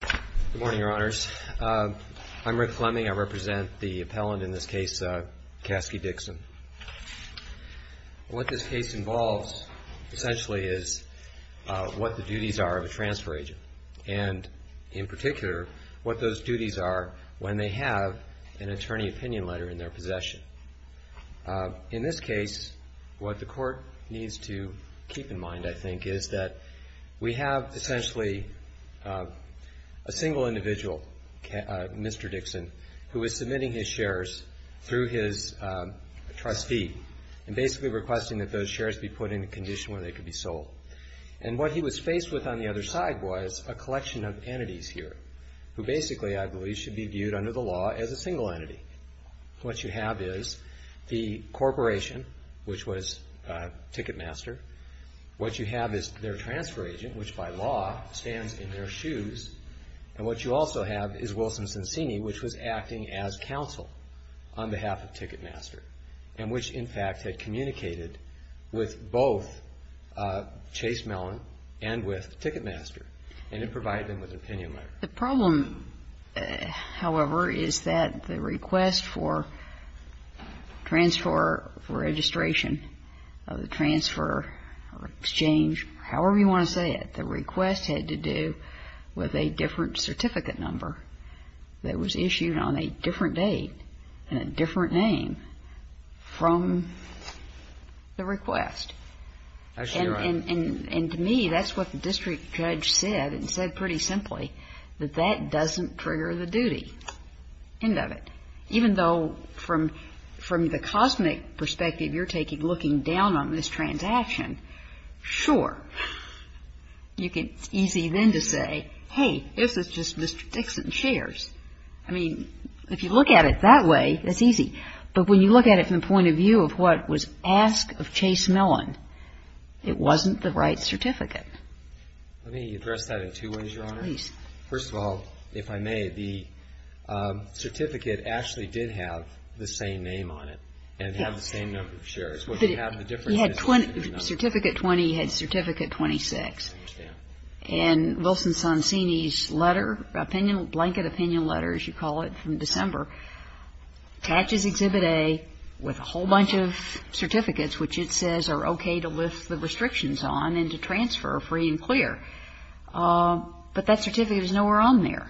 Good morning, Your Honors. I'm Rick Fleming. I represent the appellant in this case, Caskey Dixon. What this case involves, essentially, is what the duties are of a transfer agent, and in particular, what those duties are when they have an attorney opinion letter in their possession. In this case, what the Court needs to keep in mind, I think, is that we have essentially a single individual, Mr. Dixon, who is submitting his shares through his trustee and basically requesting that those shares be put in a condition where they could be sold. And what he was faced with on the other side was a collection of entities here, who basically, I believe, should be viewed under the law as a single entity. What you have is the corporation, which was Ticketmaster. What you have is their transfer agent, which by law stands in their shoes. And what you also have is Wilson Cincini, which was acting as counsel on behalf of Ticketmaster, and which, in fact, had communicated with both Chasemellon and with Ticketmaster, and had provided them with an opinion letter. GINSBURG The problem, however, is that the request for transfer, for registration of transfer, exchange, however you want to say it, the request had to do with a different certificate number that was issued on a different date and a different name from the request. And to me, that's what the district judge said, and said pretty simply, that that doesn't trigger the duty end of it. Even though from the cosmic perspective you're taking, looking down on this transaction, sure, you can, it's easy then to say, hey, this is just Mr. Dixon's shares. I mean, if you look at it that way, it's easy. But when you look at it from the point of view of what was asked of Chasemellon, it wasn't the right certificate. BROWN Let me address that in two ways, Your Honor. GINSBURG Please. BROWN First of all, if I may, the certificate actually did have the same name on it and had the same number of shares. GINSBURG But it had 20, certificate 20 had certificate 26. BROWN I understand. GINSBURG And Wilson-Sonsini's letter, opinion, blanket opinion letter, as you call it, from December, attaches Exhibit A with a whole bunch of certificates which it says are okay to lift the restrictions on and to transfer free and clear. But that certificate is nowhere on there.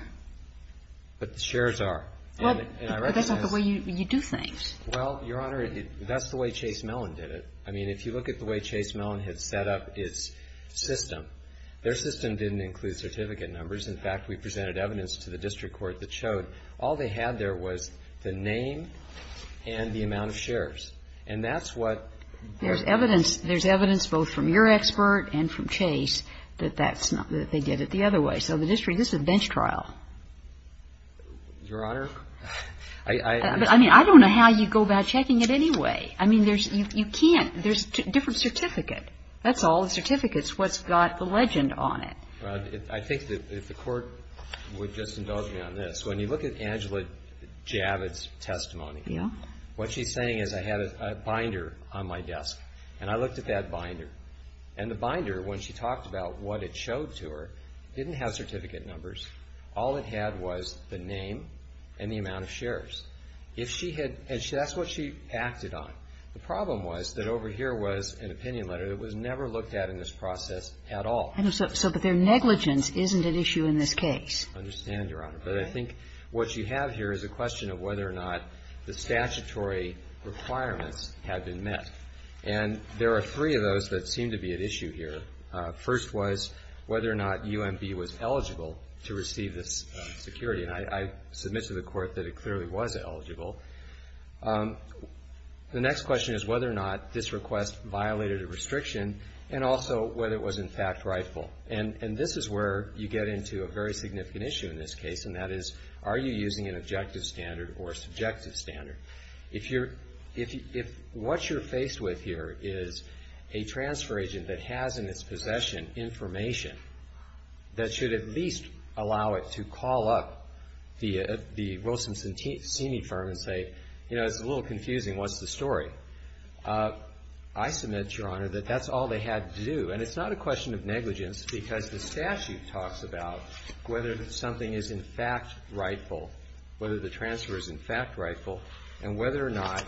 BROWN But the shares are. GINSBURG But that's not the way you do things. BROWN Well, Your Honor, that's the way Chasemellon did it. I mean, if you look at the way Chasemellon had set up its system, their system didn't include certificate numbers. In fact, we presented evidence to the district court that showed all they had there was the name and the amount of shares. And that's what. GINSBURG There's evidence, there's evidence both from your expert and from Chase that that's not, that they did it the other way. So the district, this is a bench trial. BROWN Your Honor, I. GINSBURG I mean, I don't know how you go about checking it anyway. I mean, there's, you can't, there's different certificate. That's all the certificates, what's got the legend on it. BROWN I think that if the court would just indulge me on this. When you look at Angela Javits' testimony. GINSBURG Yeah. BROWN What she's saying is I had a binder on my desk. And I looked at that binder. And the binder, when she talked about what it showed to her, didn't have certificate numbers. All it had was the name and the amount of shares. If she had, and that's what she acted on. The problem was that over here was an opinion letter that was never looked at in this process at all. KAGAN So, but their negligence isn't at issue in this case. BROWN I understand, Your Honor. KAGAN All right. BROWN But I think what you have here is a question of whether or not the statutory requirements had been met. And there are three of those that seem to be at issue here. First was whether or not UMB was eligible to receive this security. And I submit to the court that it clearly was eligible. The next question is whether or not this request violated a restriction and also whether it was in fact rightful. And this is where you get into a very significant issue in this case. And that is, are you using an objective standard or subjective standard? If what you're faced with here is a transfer agent that has in its possession information that should at least allow it to call up the Wilson Seamy firm and say, you know, it's a little confusing, what's the story? I submit, Your Honor, that that's all they had to do. And it's not a question of negligence because the statute talks about whether something is in fact rightful, whether the transfer is in fact rightful, and whether or not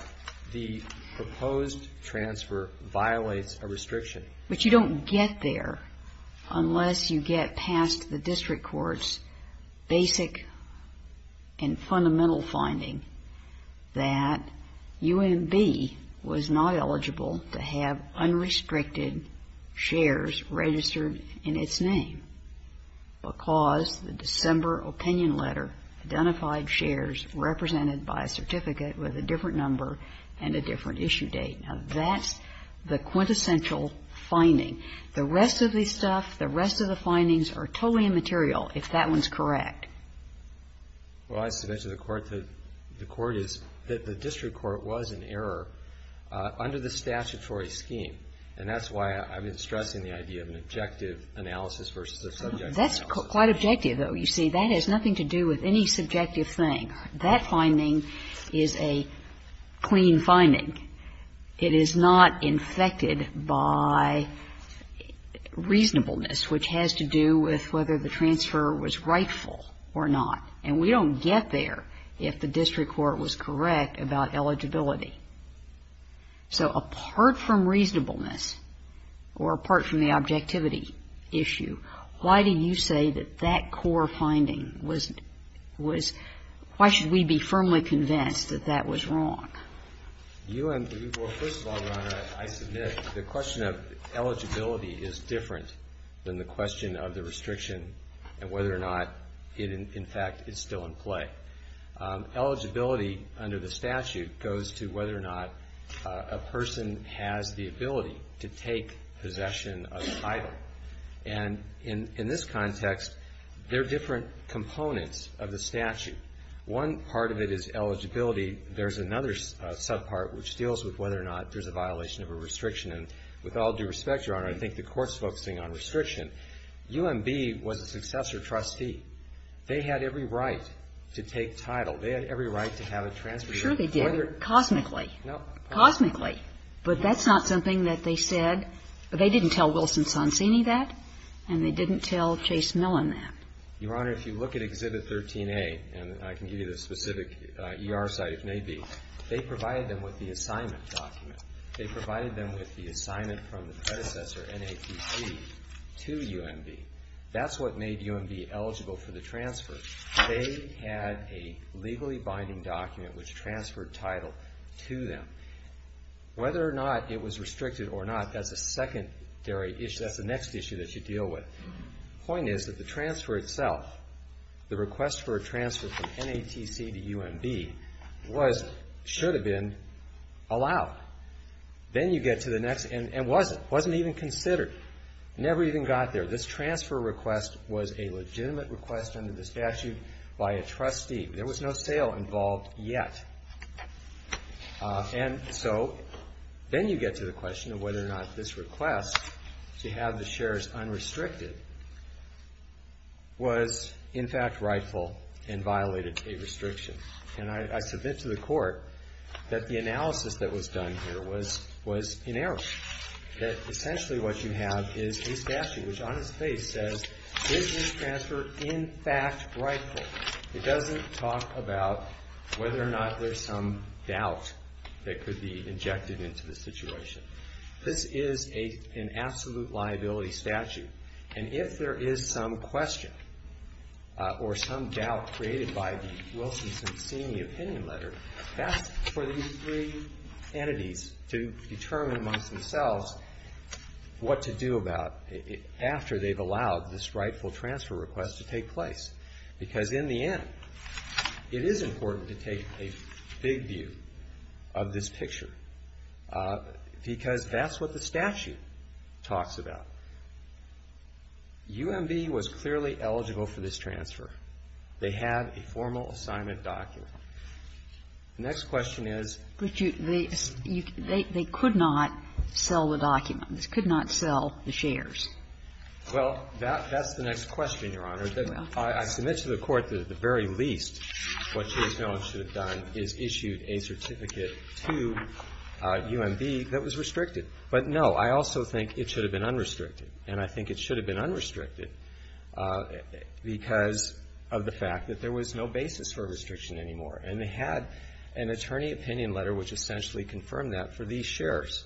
the proposed transfer violates a restriction. But you don't get there unless you get past the district court's basic and fundamental finding that UMB was not eligible to have unrestricted shares registered in its name because the December opinion letter identified shares represented by a certificate with a The rest of the stuff, the rest of the findings are totally immaterial if that one's correct. Well, as to the court, the court is, the district court was in error under the statutory scheme. And that's why I've been stressing the idea of an objective analysis versus a subjective analysis. That's quite objective, though. You see, that has nothing to do with any subjective thing. That finding is a clean finding. It is not infected by reasonableness, which has to do with whether the transfer was rightful or not. And we don't get there if the district court was correct about eligibility. So apart from reasonableness or apart from the objectivity issue, why do you say that that core finding was, why should we be firmly convinced that that was wrong? You and, well, first of all, Your Honor, I submit the question of eligibility is different than the question of the restriction and whether or not it in fact is still in play. Eligibility under the statute goes to whether or not a person has the ability to take title. There are different components of the statute. One part of it is eligibility. There's another subpart which deals with whether or not there's a violation of a restriction. And with all due respect, Your Honor, I think the Court's focusing on restriction. UMB was a successor trustee. They had every right to take title. They had every right to have a transfer here. I'm sure they did. Cosmically. Cosmically. But that's not something that they said or they didn't tell Wilson Sonsini that and they didn't tell Chase Millen that. Your Honor, if you look at Exhibit 13A, and I can give you the specific ER site if may be, they provided them with the assignment document. They provided them with the assignment from the predecessor, NAPC, to UMB. That's what made UMB eligible for the transfer. They had a legally binding document which transferred title to them. Whether or not it was restricted or not, that's a secondary issue. That's the next issue that you deal with. The point is that the transfer itself, the request for a transfer from NATC to UMB was, should have been, allowed. Then you get to the next, and wasn't. It wasn't even statute by a trustee. There was no sale involved yet. And so, then you get to the question of whether or not this request to have the shares unrestricted was in fact rightful and violated a restriction. And I submit to the court that the analysis that was done here was in error. That essentially what you have is a statute which on its face says, is this transfer in fact rightful? It doesn't talk about whether or not there's some doubt that could be injected into the situation. This is an absolute liability statute. And if there is some question or some doubt created by the Wilson-Cincinni opinion letter, that's for these three entities to determine amongst themselves what to do about it after they've allowed this rightful transfer request to take place. Because in the end, it is important to take a big view of this picture. Because that's what the statute talks about. UMB was clearly eligible for this transfer. They had a formal assignment document. The next question is they could not sell the document. They could not sell the shares. Well, that's the next question, Your Honor. I submit to the court that at the very least what Chase Mellon should have done is issued a certificate to UMB that was restricted. But, no, I also think it should have been unrestricted. And I think it should have been unrestricted because of the fact that there was no basis for restriction anymore. And they had an attorney opinion letter which essentially confirmed that for these shares.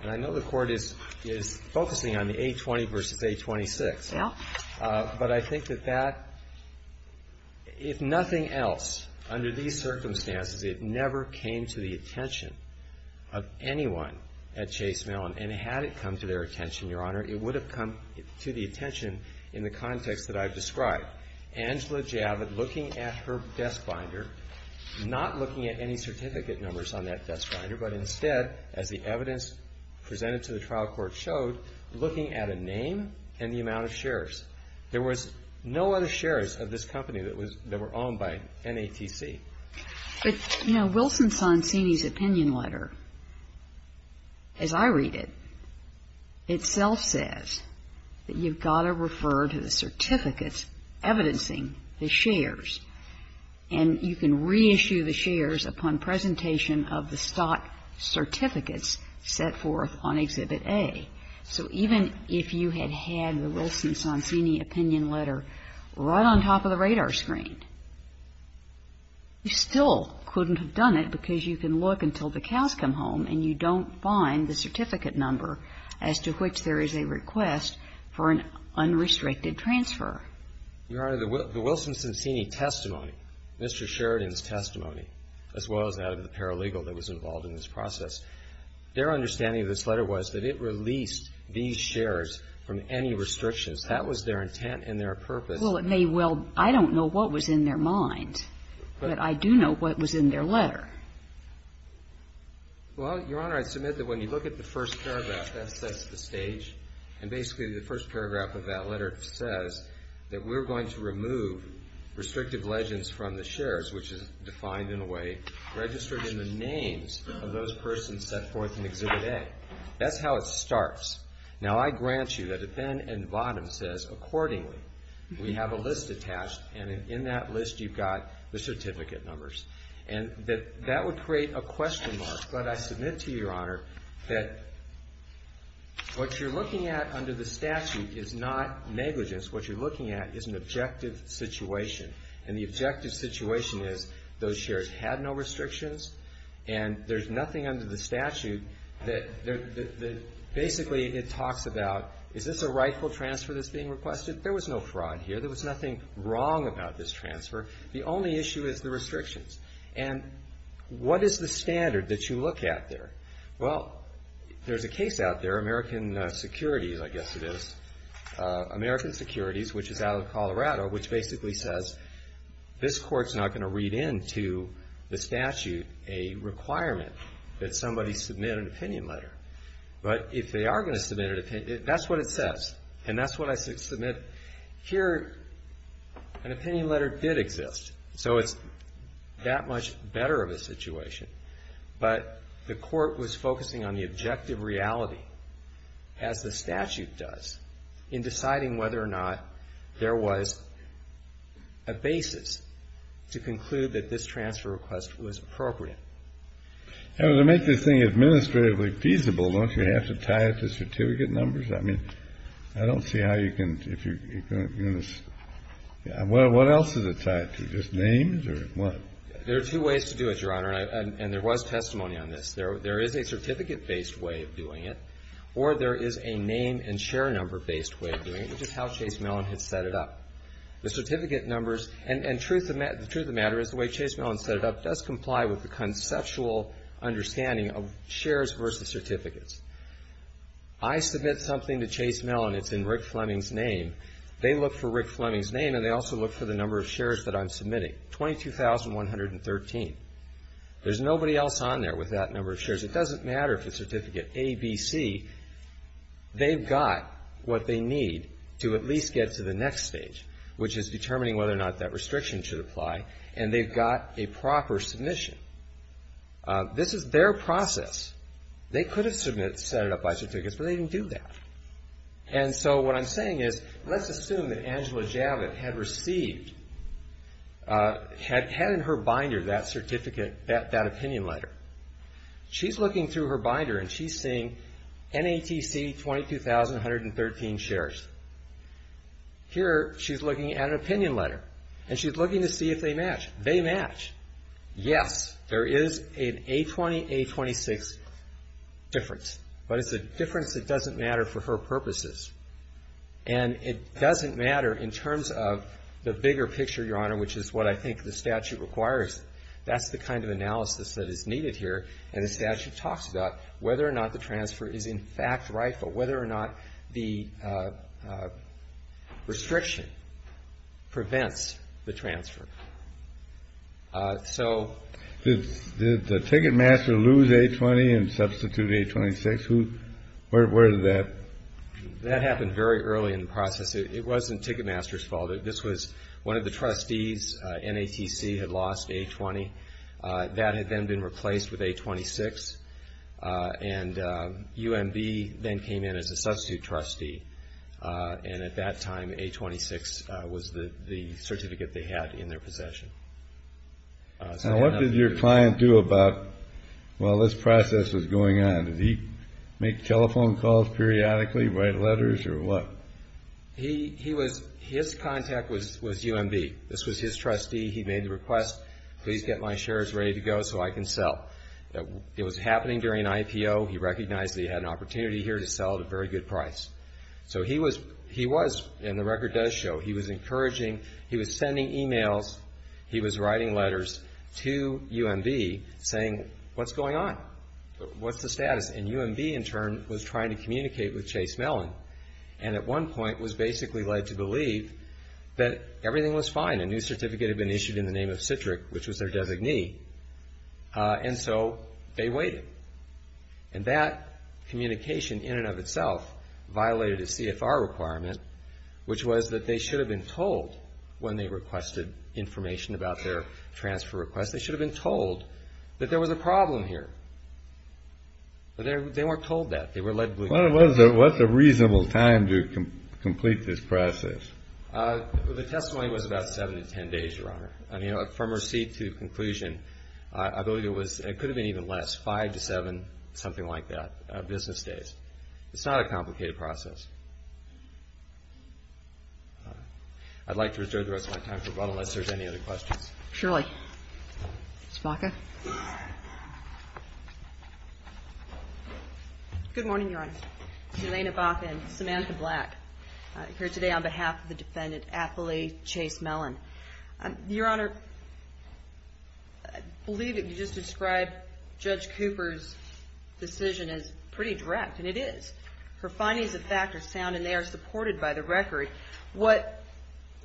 And I know the Court is focusing on the A20 v. A26. Yeah. But I think that that, if nothing else, under these circumstances, it never came to the attention of anyone at Chase Mellon. And had it come to their attention, Your Honor, it would have come to the attention in the context that I've described. Angela Javid looking at her desk binder, not looking at any certificate numbers on that desk binder, but instead, as the evidence presented to the trial court showed, looking at a name and the amount of shares. There was no other shares of this company that were owned by NATC. But, you know, Wilson Sonsini's opinion letter, as I read it, itself says that you've got to refer to the certificates evidencing the shares. And you can reissue the shares upon presentation of the stock certificates set forth on Exhibit A. So even if you had had the Wilson Sonsini opinion letter right on top of the radar screen, you still couldn't have done it because you can look until the cows come home and you don't find the certificate number as to which there is a request for an unrestricted transfer. Your Honor, the Wilson Sonsini testimony, Mr. Sheridan's testimony, as well as that of the paralegal that was involved in this process, their understanding of this letter was that it released these shares from any restrictions. That was their intent and their purpose. Well, it may well be. I don't know what was in their mind, but I do know what was in their letter. Well, Your Honor, I submit that when you look at the first paragraph that sets the stage, and basically the first paragraph of that letter says that we're going to remove restrictive legends from the shares, which is defined in a way, registered in the names of those persons set forth in Exhibit A. That's how it starts. Now, I grant you that the pen at the bottom says, accordingly, we have a list attached, and in that list you've got the certificate numbers. And that would create a question mark, but I submit to you, Your Honor, that what you're looking at under the statute is not negligence. What you're looking at is an objective situation. And the objective situation is those shares had no restrictions, and there's nothing under the statute that basically it talks about, is this a rightful transfer that's being requested? There was no fraud here. There was nothing wrong about this transfer. The only issue is the restrictions. And what is the standard that you look at there? Well, there's a case out there, American Securities, I guess it is, American Securities, which is out of Colorado, which basically says this court's not going to read into the statute a requirement that somebody submit an opinion letter. But if they are going to submit an opinion, that's what it says. And that's what I submit. Here, an opinion letter did exist. So it's that much better of a situation. But the court was focusing on the objective reality as the statute does in deciding whether or not there was a basis to conclude that this transfer request was appropriate. And to make this thing administratively feasible, don't you have to tie it to certificate numbers? I mean, I don't see how you can, if you're going to, what else is it tied to, just names or what? There are two ways to do it, Your Honor, and there was testimony on this. There is a certificate-based way of doing it, or there is a name and share number-based way of doing it, which is how Chase Mellon had set it up. The certificate numbers and the truth of the matter is the way Chase Mellon set it up does comply with the conceptual understanding of shares versus certificates. I submit something to Chase Mellon. It's in Rick Fleming's name. They look for Rick Fleming's name and they also look for the number of shares that I'm submitting, 22,113. There's nobody else on there with that number of shares. It doesn't matter if it's certificate A, B, C. They've got what they need to at least get to the next stage, which is determining whether or not that restriction should apply, and they've got a proper submission. This is their process. They could have submitted, set it up by certificates, but they didn't do that. And so what I'm saying is, let's assume that Angela Javit had received, had in her binder that certificate, that opinion letter. She's looking through her binder and she's seeing NATC 22,113 shares. Here, she's looking at an opinion letter and she's looking to see if they match. They match. Yes, there is an A20, A26 difference, but it's a difference that doesn't matter for her purposes. And it doesn't matter in terms of the bigger picture, Your Honor, which is what I think the statute requires. That's the kind of analysis that is talks about whether or not the transfer is in fact right, but whether or not the restriction prevents the transfer. So... Did the Ticketmaster lose A20 and substitute A26? Where did that... That happened very early in the process. It wasn't Ticketmaster's fault. This was one of the trustees. NATC had lost A20. That had then been replaced with A26. And UMB then came in as a substitute trustee. And at that time, A26 was the certificate they had in their possession. Now, what did your client do while this process was going on? Did he make telephone calls periodically, write letters, or what? His contact was UMB. This was his trustee. He made the request, please get my certificate. He was working during an IPO. He recognized that he had an opportunity here to sell at a very good price. So he was, and the record does show, he was encouraging, he was sending emails, he was writing letters to UMB saying, what's going on? What's the status? And UMB, in turn, was trying to communicate with Chase Mellon. And at one point was basically led to believe that everything was working. And so they waited. And that communication, in and of itself, violated a CFR requirement, which was that they should have been told when they requested information about their transfer request. They should have been told that there was a problem here. But they weren't told that. They were led to believe that. What was the reasonable time to complete this process? The testimony was about 7 to 10 days, Your Honor. I mean, from receipt to conclusion, I believe it was, it could have been even less, 5 to 7, something like that, business days. It's not a complicated process. I'd like to reserve the rest of my time for but unless there's any other questions. Ms. Baca. Good morning, Your Honor. Jelena Baca and Samantha Black here today on behalf of the defendant, athlete Chase Mellon. Your Honor, I believe that you just described Judge Cooper's decision as pretty direct, and it is. Her findings of fact are sound and they are supported by the record. What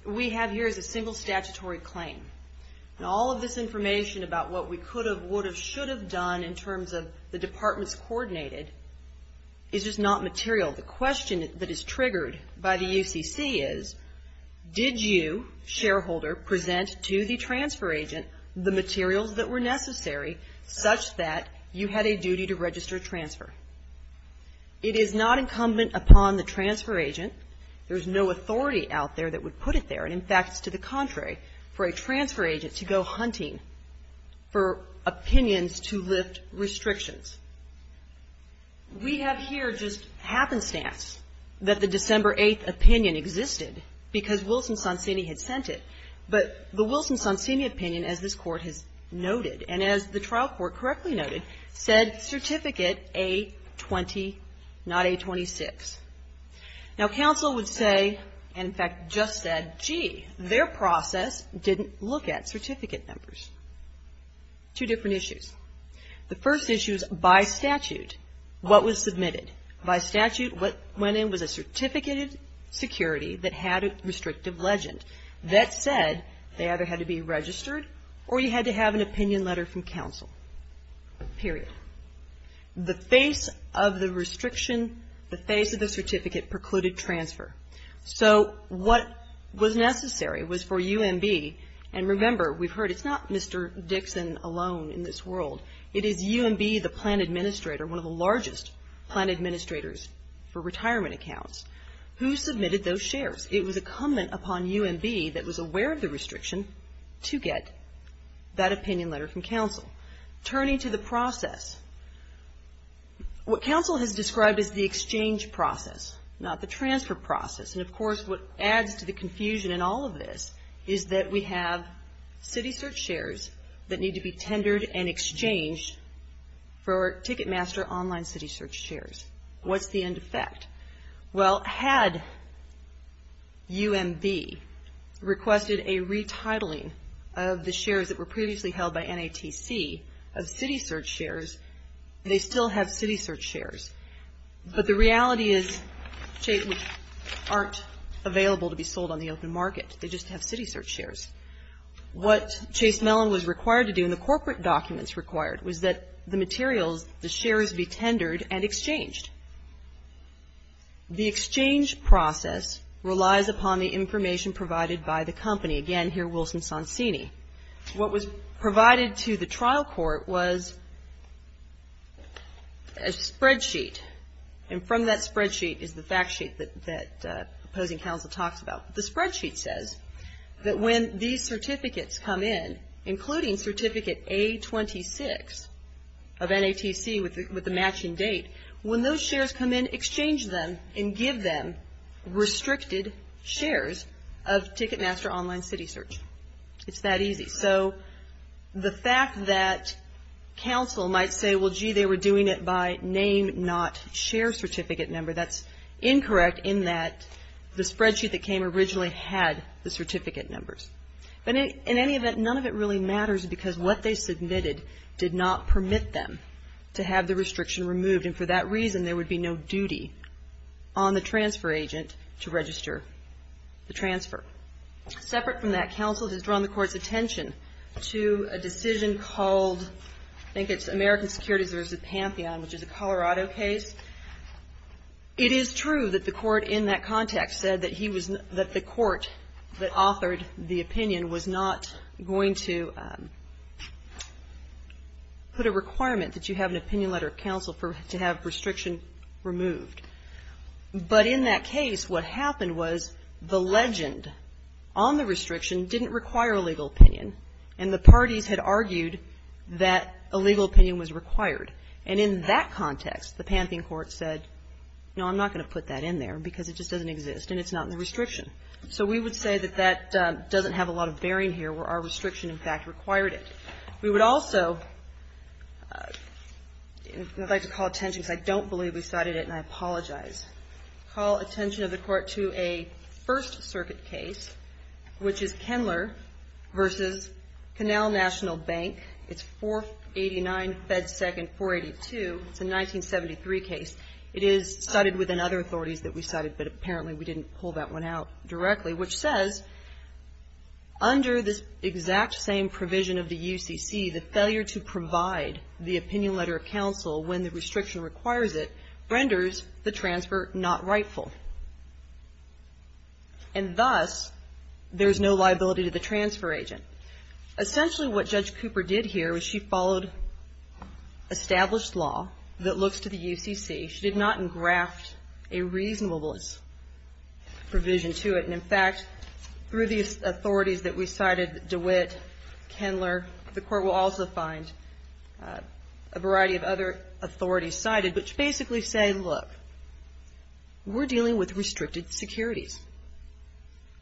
we have here is a single statutory claim. And all of this information about what we could have, would have, should have done in terms of the departments coordinated is just not material. The question that is triggered by the UCC is, did you, shareholder, present to the transfer agent the materials that were necessary such that you had a duty to register a transfer? It is not incumbent upon the transfer agent. There's no authority out there that would put it there. And in fact, it's to the contrary, for a transfer agent to go hunting for opinions to lift restrictions. We have here just happenstance that the December 8th opinion existed because Wilson-Sonsini had sent it. But the Wilson-Sonsini opinion, as this Court has noted, and as the trial court correctly noted, said certificate A-20, not A-26. Now, counsel would say, and in fact just said, gee, their process didn't look at certificate numbers. Two different issues. The first issue is by statute, what was submitted. By statute, what went in was a certificate of security that had a restrictive legend. That said, they either had to be registered or you had to have an opinion letter from counsel. Period. The face of the restriction, the face of the certificate precluded transfer. So what was necessary was for UMB, and remember, we've heard, it's not Mr. Dixon alone in this world. It is UMB, the plan administrator, one of the largest plan administrators for retirement accounts, who submitted those shares. It was incumbent upon UMB that was aware of the restriction to get that opinion letter from counsel. Turning to the process, what counsel has described as the exchange process, not the transfer process. And, of course, what adds to the confusion in all of this is that we have city search shares that need to be tendered and exchanged for Ticketmaster online city search shares. What's the end effect? Well, had UMB requested a retitling of the shares that were previously held by NATC of city search shares, they still have city search shares. But the reality is, which aren't available to be sold on the open market. They just have city search shares. What Chase Mellon was required to do, and the corporate documents required, was that the materials, the shares be tendered and exchanged. The exchange process relies upon the information provided by the company. Again, here, Wilson-Sonsini. What was provided to the trial court was the information provided by a spreadsheet. And from that spreadsheet is the fact sheet that opposing counsel talks about. The spreadsheet says that when these certificates come in, including Certificate A-26 of NATC with the matching date, when those shares come in, exchange them and give them restricted shares of Ticketmaster online city search. It's that easy. So the fact that counsel might say, well, gee, they were doing it by name, not share certificate number, that's incorrect in that the spreadsheet that came originally had the certificate numbers. But in any event, none of it really matters because what they submitted did not permit them to have the restriction removed. And for that reason, there would be no duty on the transfer agent to register the transfer. Separate from that, counsel has drawn the court's attention to a decision called, I think it's American Securities v. Pantheon, which is a Colorado case. It is true that the court in that context said that the court that authored the opinion was not going to put a requirement that you have an opinion letter of counsel to have restriction removed. But in that case, what happened was the legend on the restriction didn't require a legal opinion, and the parties had argued that a legal opinion was required. And in that context, the Pantheon court said, no, I'm not going to put that in there because it just doesn't exist and it's not in the restriction. So we would say that that doesn't have a lot of bearing here where our restriction, in fact, required it. We would also, and I'd like to call attention because I don't believe we cited it and I apologize, call attention of the court to a First Circuit case, which is Kendler v. Canal National Bank. It's 489 Fed Second 482. It's a 1973 case. It is cited within other authorities that we cited, but apparently we didn't pull that one out directly, which says, under this exact same provision of the UCC, the failure to enforce it renders the transfer not rightful. And thus, there's no liability to the transfer agent. Essentially, what Judge Cooper did here was she followed established law that looks to the UCC. She did not engraft a reasonableness provision to it. And in fact, through the authorities that we cited, DeWitt, Kendler, the court will also find a variety of other things that are in violation of federal law. And they basically say, look, we're dealing with restricted securities.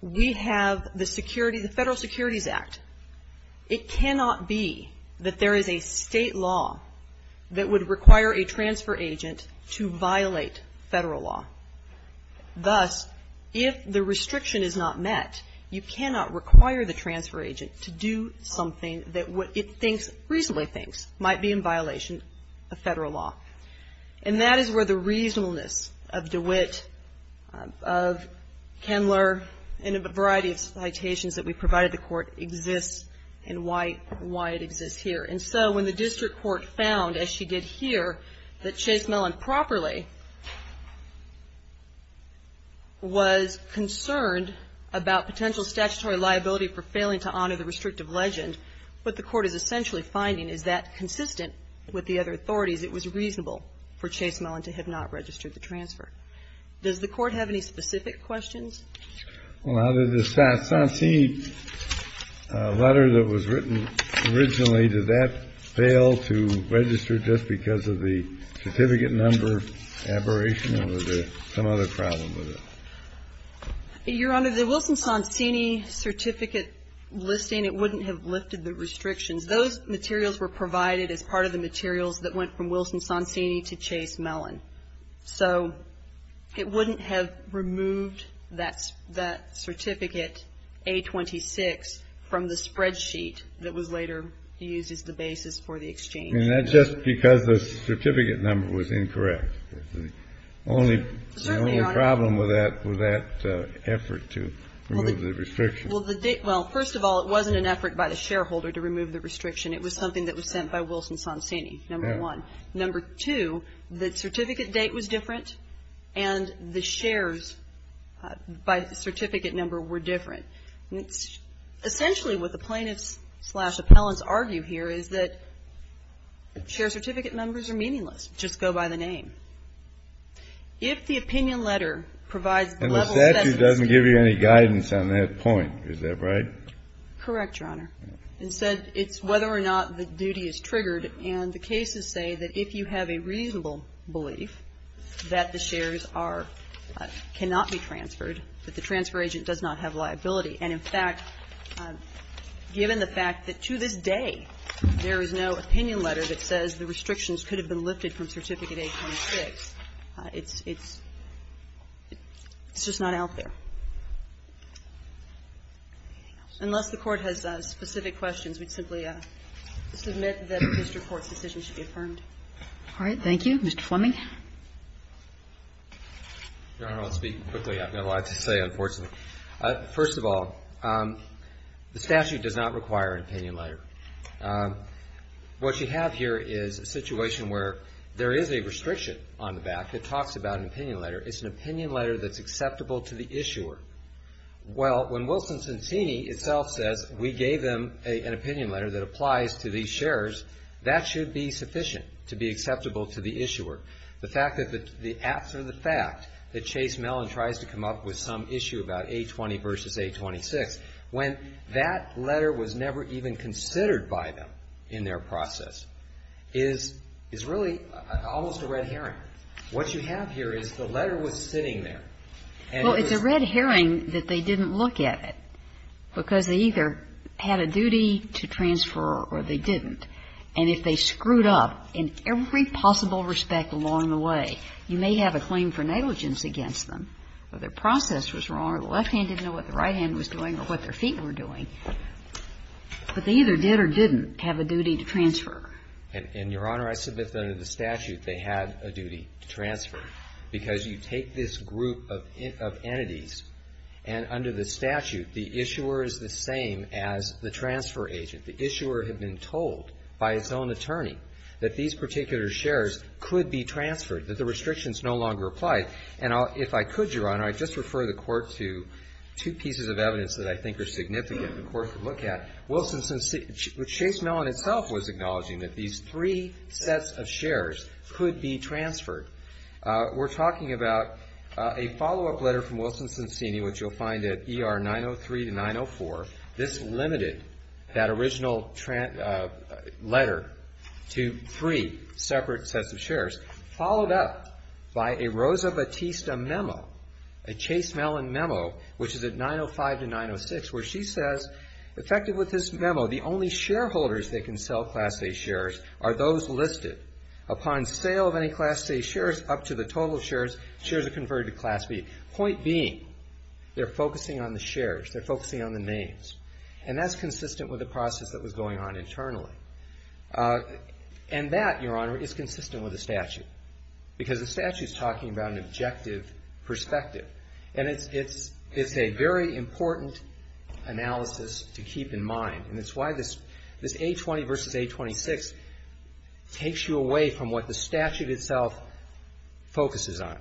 We have the security, the Federal Securities Act. It cannot be that there is a state law that would require a transfer agent to violate federal law. Thus, if the restriction is not met, you cannot require the transfer agent to do something that what it thinks, reasonably thinks, might be in violation of federal law. And that is where the reasonableness of DeWitt, of Kendler, and a variety of citations that we provided the court exists and why it exists here. And so, when the district court found, as she did here, that Chase Mellon properly was concerned about potential statutory liability for failing to honor the restrictive legislation, it was reasonable for Chase Mellon to have not registered the transfer. Does the court have any specific questions? Well, out of the Sansini letter that was written originally, did that fail to register just because of the certificate number aberration, or was there some other problem with it? Your Honor, the Wilson-Sansini certificate listing, it wouldn't have lifted the restrictions. Those materials were provided as part of the materials that went from Wilson-Sansini to Chase Mellon. So, it wouldn't have removed that certificate, A-26, from the spreadsheet that was later used as the basis for the exchange. And that's just because the certificate number was incorrect. The only problem with that was that effort to remove the restrictions. Well, first of all, it wasn't an effort by the shareholder to remove the restriction. It was something that was sent by Wilson-Sansini, number one. Number two, the certificate date was different, and the shares by the certificate number were different. Essentially, what the plaintiffs-slash-appellants argue here is that share certificate numbers are meaningless. Just go by the name. If the opinion letter provides the level of evidence to the plaintiffs- And the statute doesn't give you any guidance on that point. Is that right? Correct, Your Honor. Instead, it's whether or not the duty is triggered. And the cases say that if you have a reasonable belief that the shares are – cannot be transferred, that the transfer agent does not have liability. And, in fact, given the fact that to this day, there is no opinion letter that says the restrictions could have been lifted from Certificate 826, it's just not out there. Unless the Court has specific questions, we'd simply submit that the district court's decision should be affirmed. All right. Thank you. Mr. Fleming. Your Honor, I'll speak quickly. I've got a lot to say, unfortunately. First of all, the statute does not require an opinion letter. What you have here is a situation where there is a restriction on the back that talks about an opinion letter. It's an opinion letter that's acceptable to the issuer. Well, when Wilson-Cincinni itself says, we gave them an opinion letter that applies to these shares, that should be sufficient to be acceptable to the issuer. The fact that after the fact that Chase Mellon tries to come up with some issue about 820 versus 826, when that letter was never even considered by them in their process, is really almost a red herring. What you have here is the letter was sitting there. Well, it's a red herring that they didn't look at it because they either had a duty to transfer or they didn't. And if they screwed up, in every possible respect along the way, you may have a claim for negligence against them, whether process was wrong or the left hand didn't know what the right hand was doing or what their feet were doing. But they either did or didn't have a duty to transfer. And, Your Honor, I submit that under the statute, they had a duty to transfer. Because you take this group of entities, and under the statute, the issuer is the same as the transfer agent. The issuer had been told by its own attorney that these particular shares could be transferred, that the restrictions no longer apply. And if I could, Your Honor, I'd just refer the Court to two pieces of evidence that I think are significant the Court could look at. Chase Mellon itself was acknowledging that these three sets of shares could be transferred. We're talking about a follow-up letter from Wilson-Cincinni, which you'll find at ER 903 to 904. This limited that original letter to three separate sets of shares, followed up by a Rosa Batista memo, a Chase Mellon memo, which is at 905 to 906, where she says, effective with this memo, the only shareholders that can sell Class A shares are those listed. Upon sale of any Class A shares up to the total shares, shares are converted to Class B. Point being, they're focusing on the shares. They're focusing on the names. And that's consistent with the process that was going on internally. And that, Your Honor, is consistent with the statute. Because the statute's talking about an objective perspective. And it's a very important analysis to keep in mind. And it's why this A20 versus A26 takes you away from what the statute itself focuses on,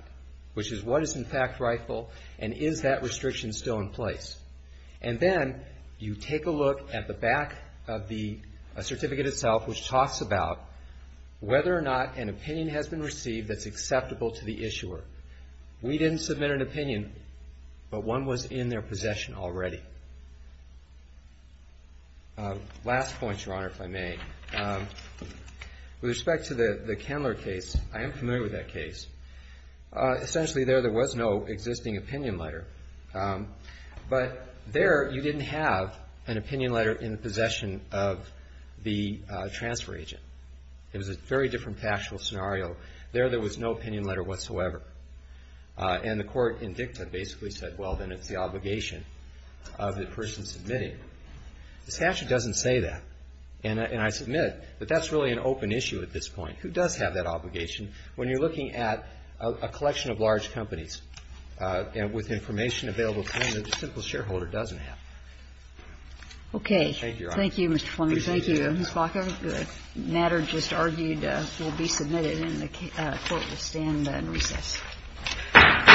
which is what is in fact rightful and is that restriction still in place. And then you take a look at the back of the certificate itself, which talks about whether or not an opinion has been received that's acceptable to the issuer. We didn't submit an opinion, but one was in their possession already. Last point, Your Honor, if I may. With respect to the Kendler case, I am familiar with that case. Essentially, there, there was no existing opinion letter. But there, you didn't have an opinion letter in the possession of the transfer agent. It was a very different factual scenario. There, there was no opinion letter whatsoever. And the court in dicta basically said, well, then it's the obligation of the person submitting. The statute doesn't say that. And I submit that that's really an open issue at this point. Who does have that obligation? When you're looking at a collection of large companies with information available to them that a simple shareholder doesn't have. Okay. Thank you, Your Honor. Thank you, Mr. Fleming. Thank you, Ms. Walker. The matter just argued will be submitted and the court will stand in recess. Quiet, quiet. Thank you. Thank you.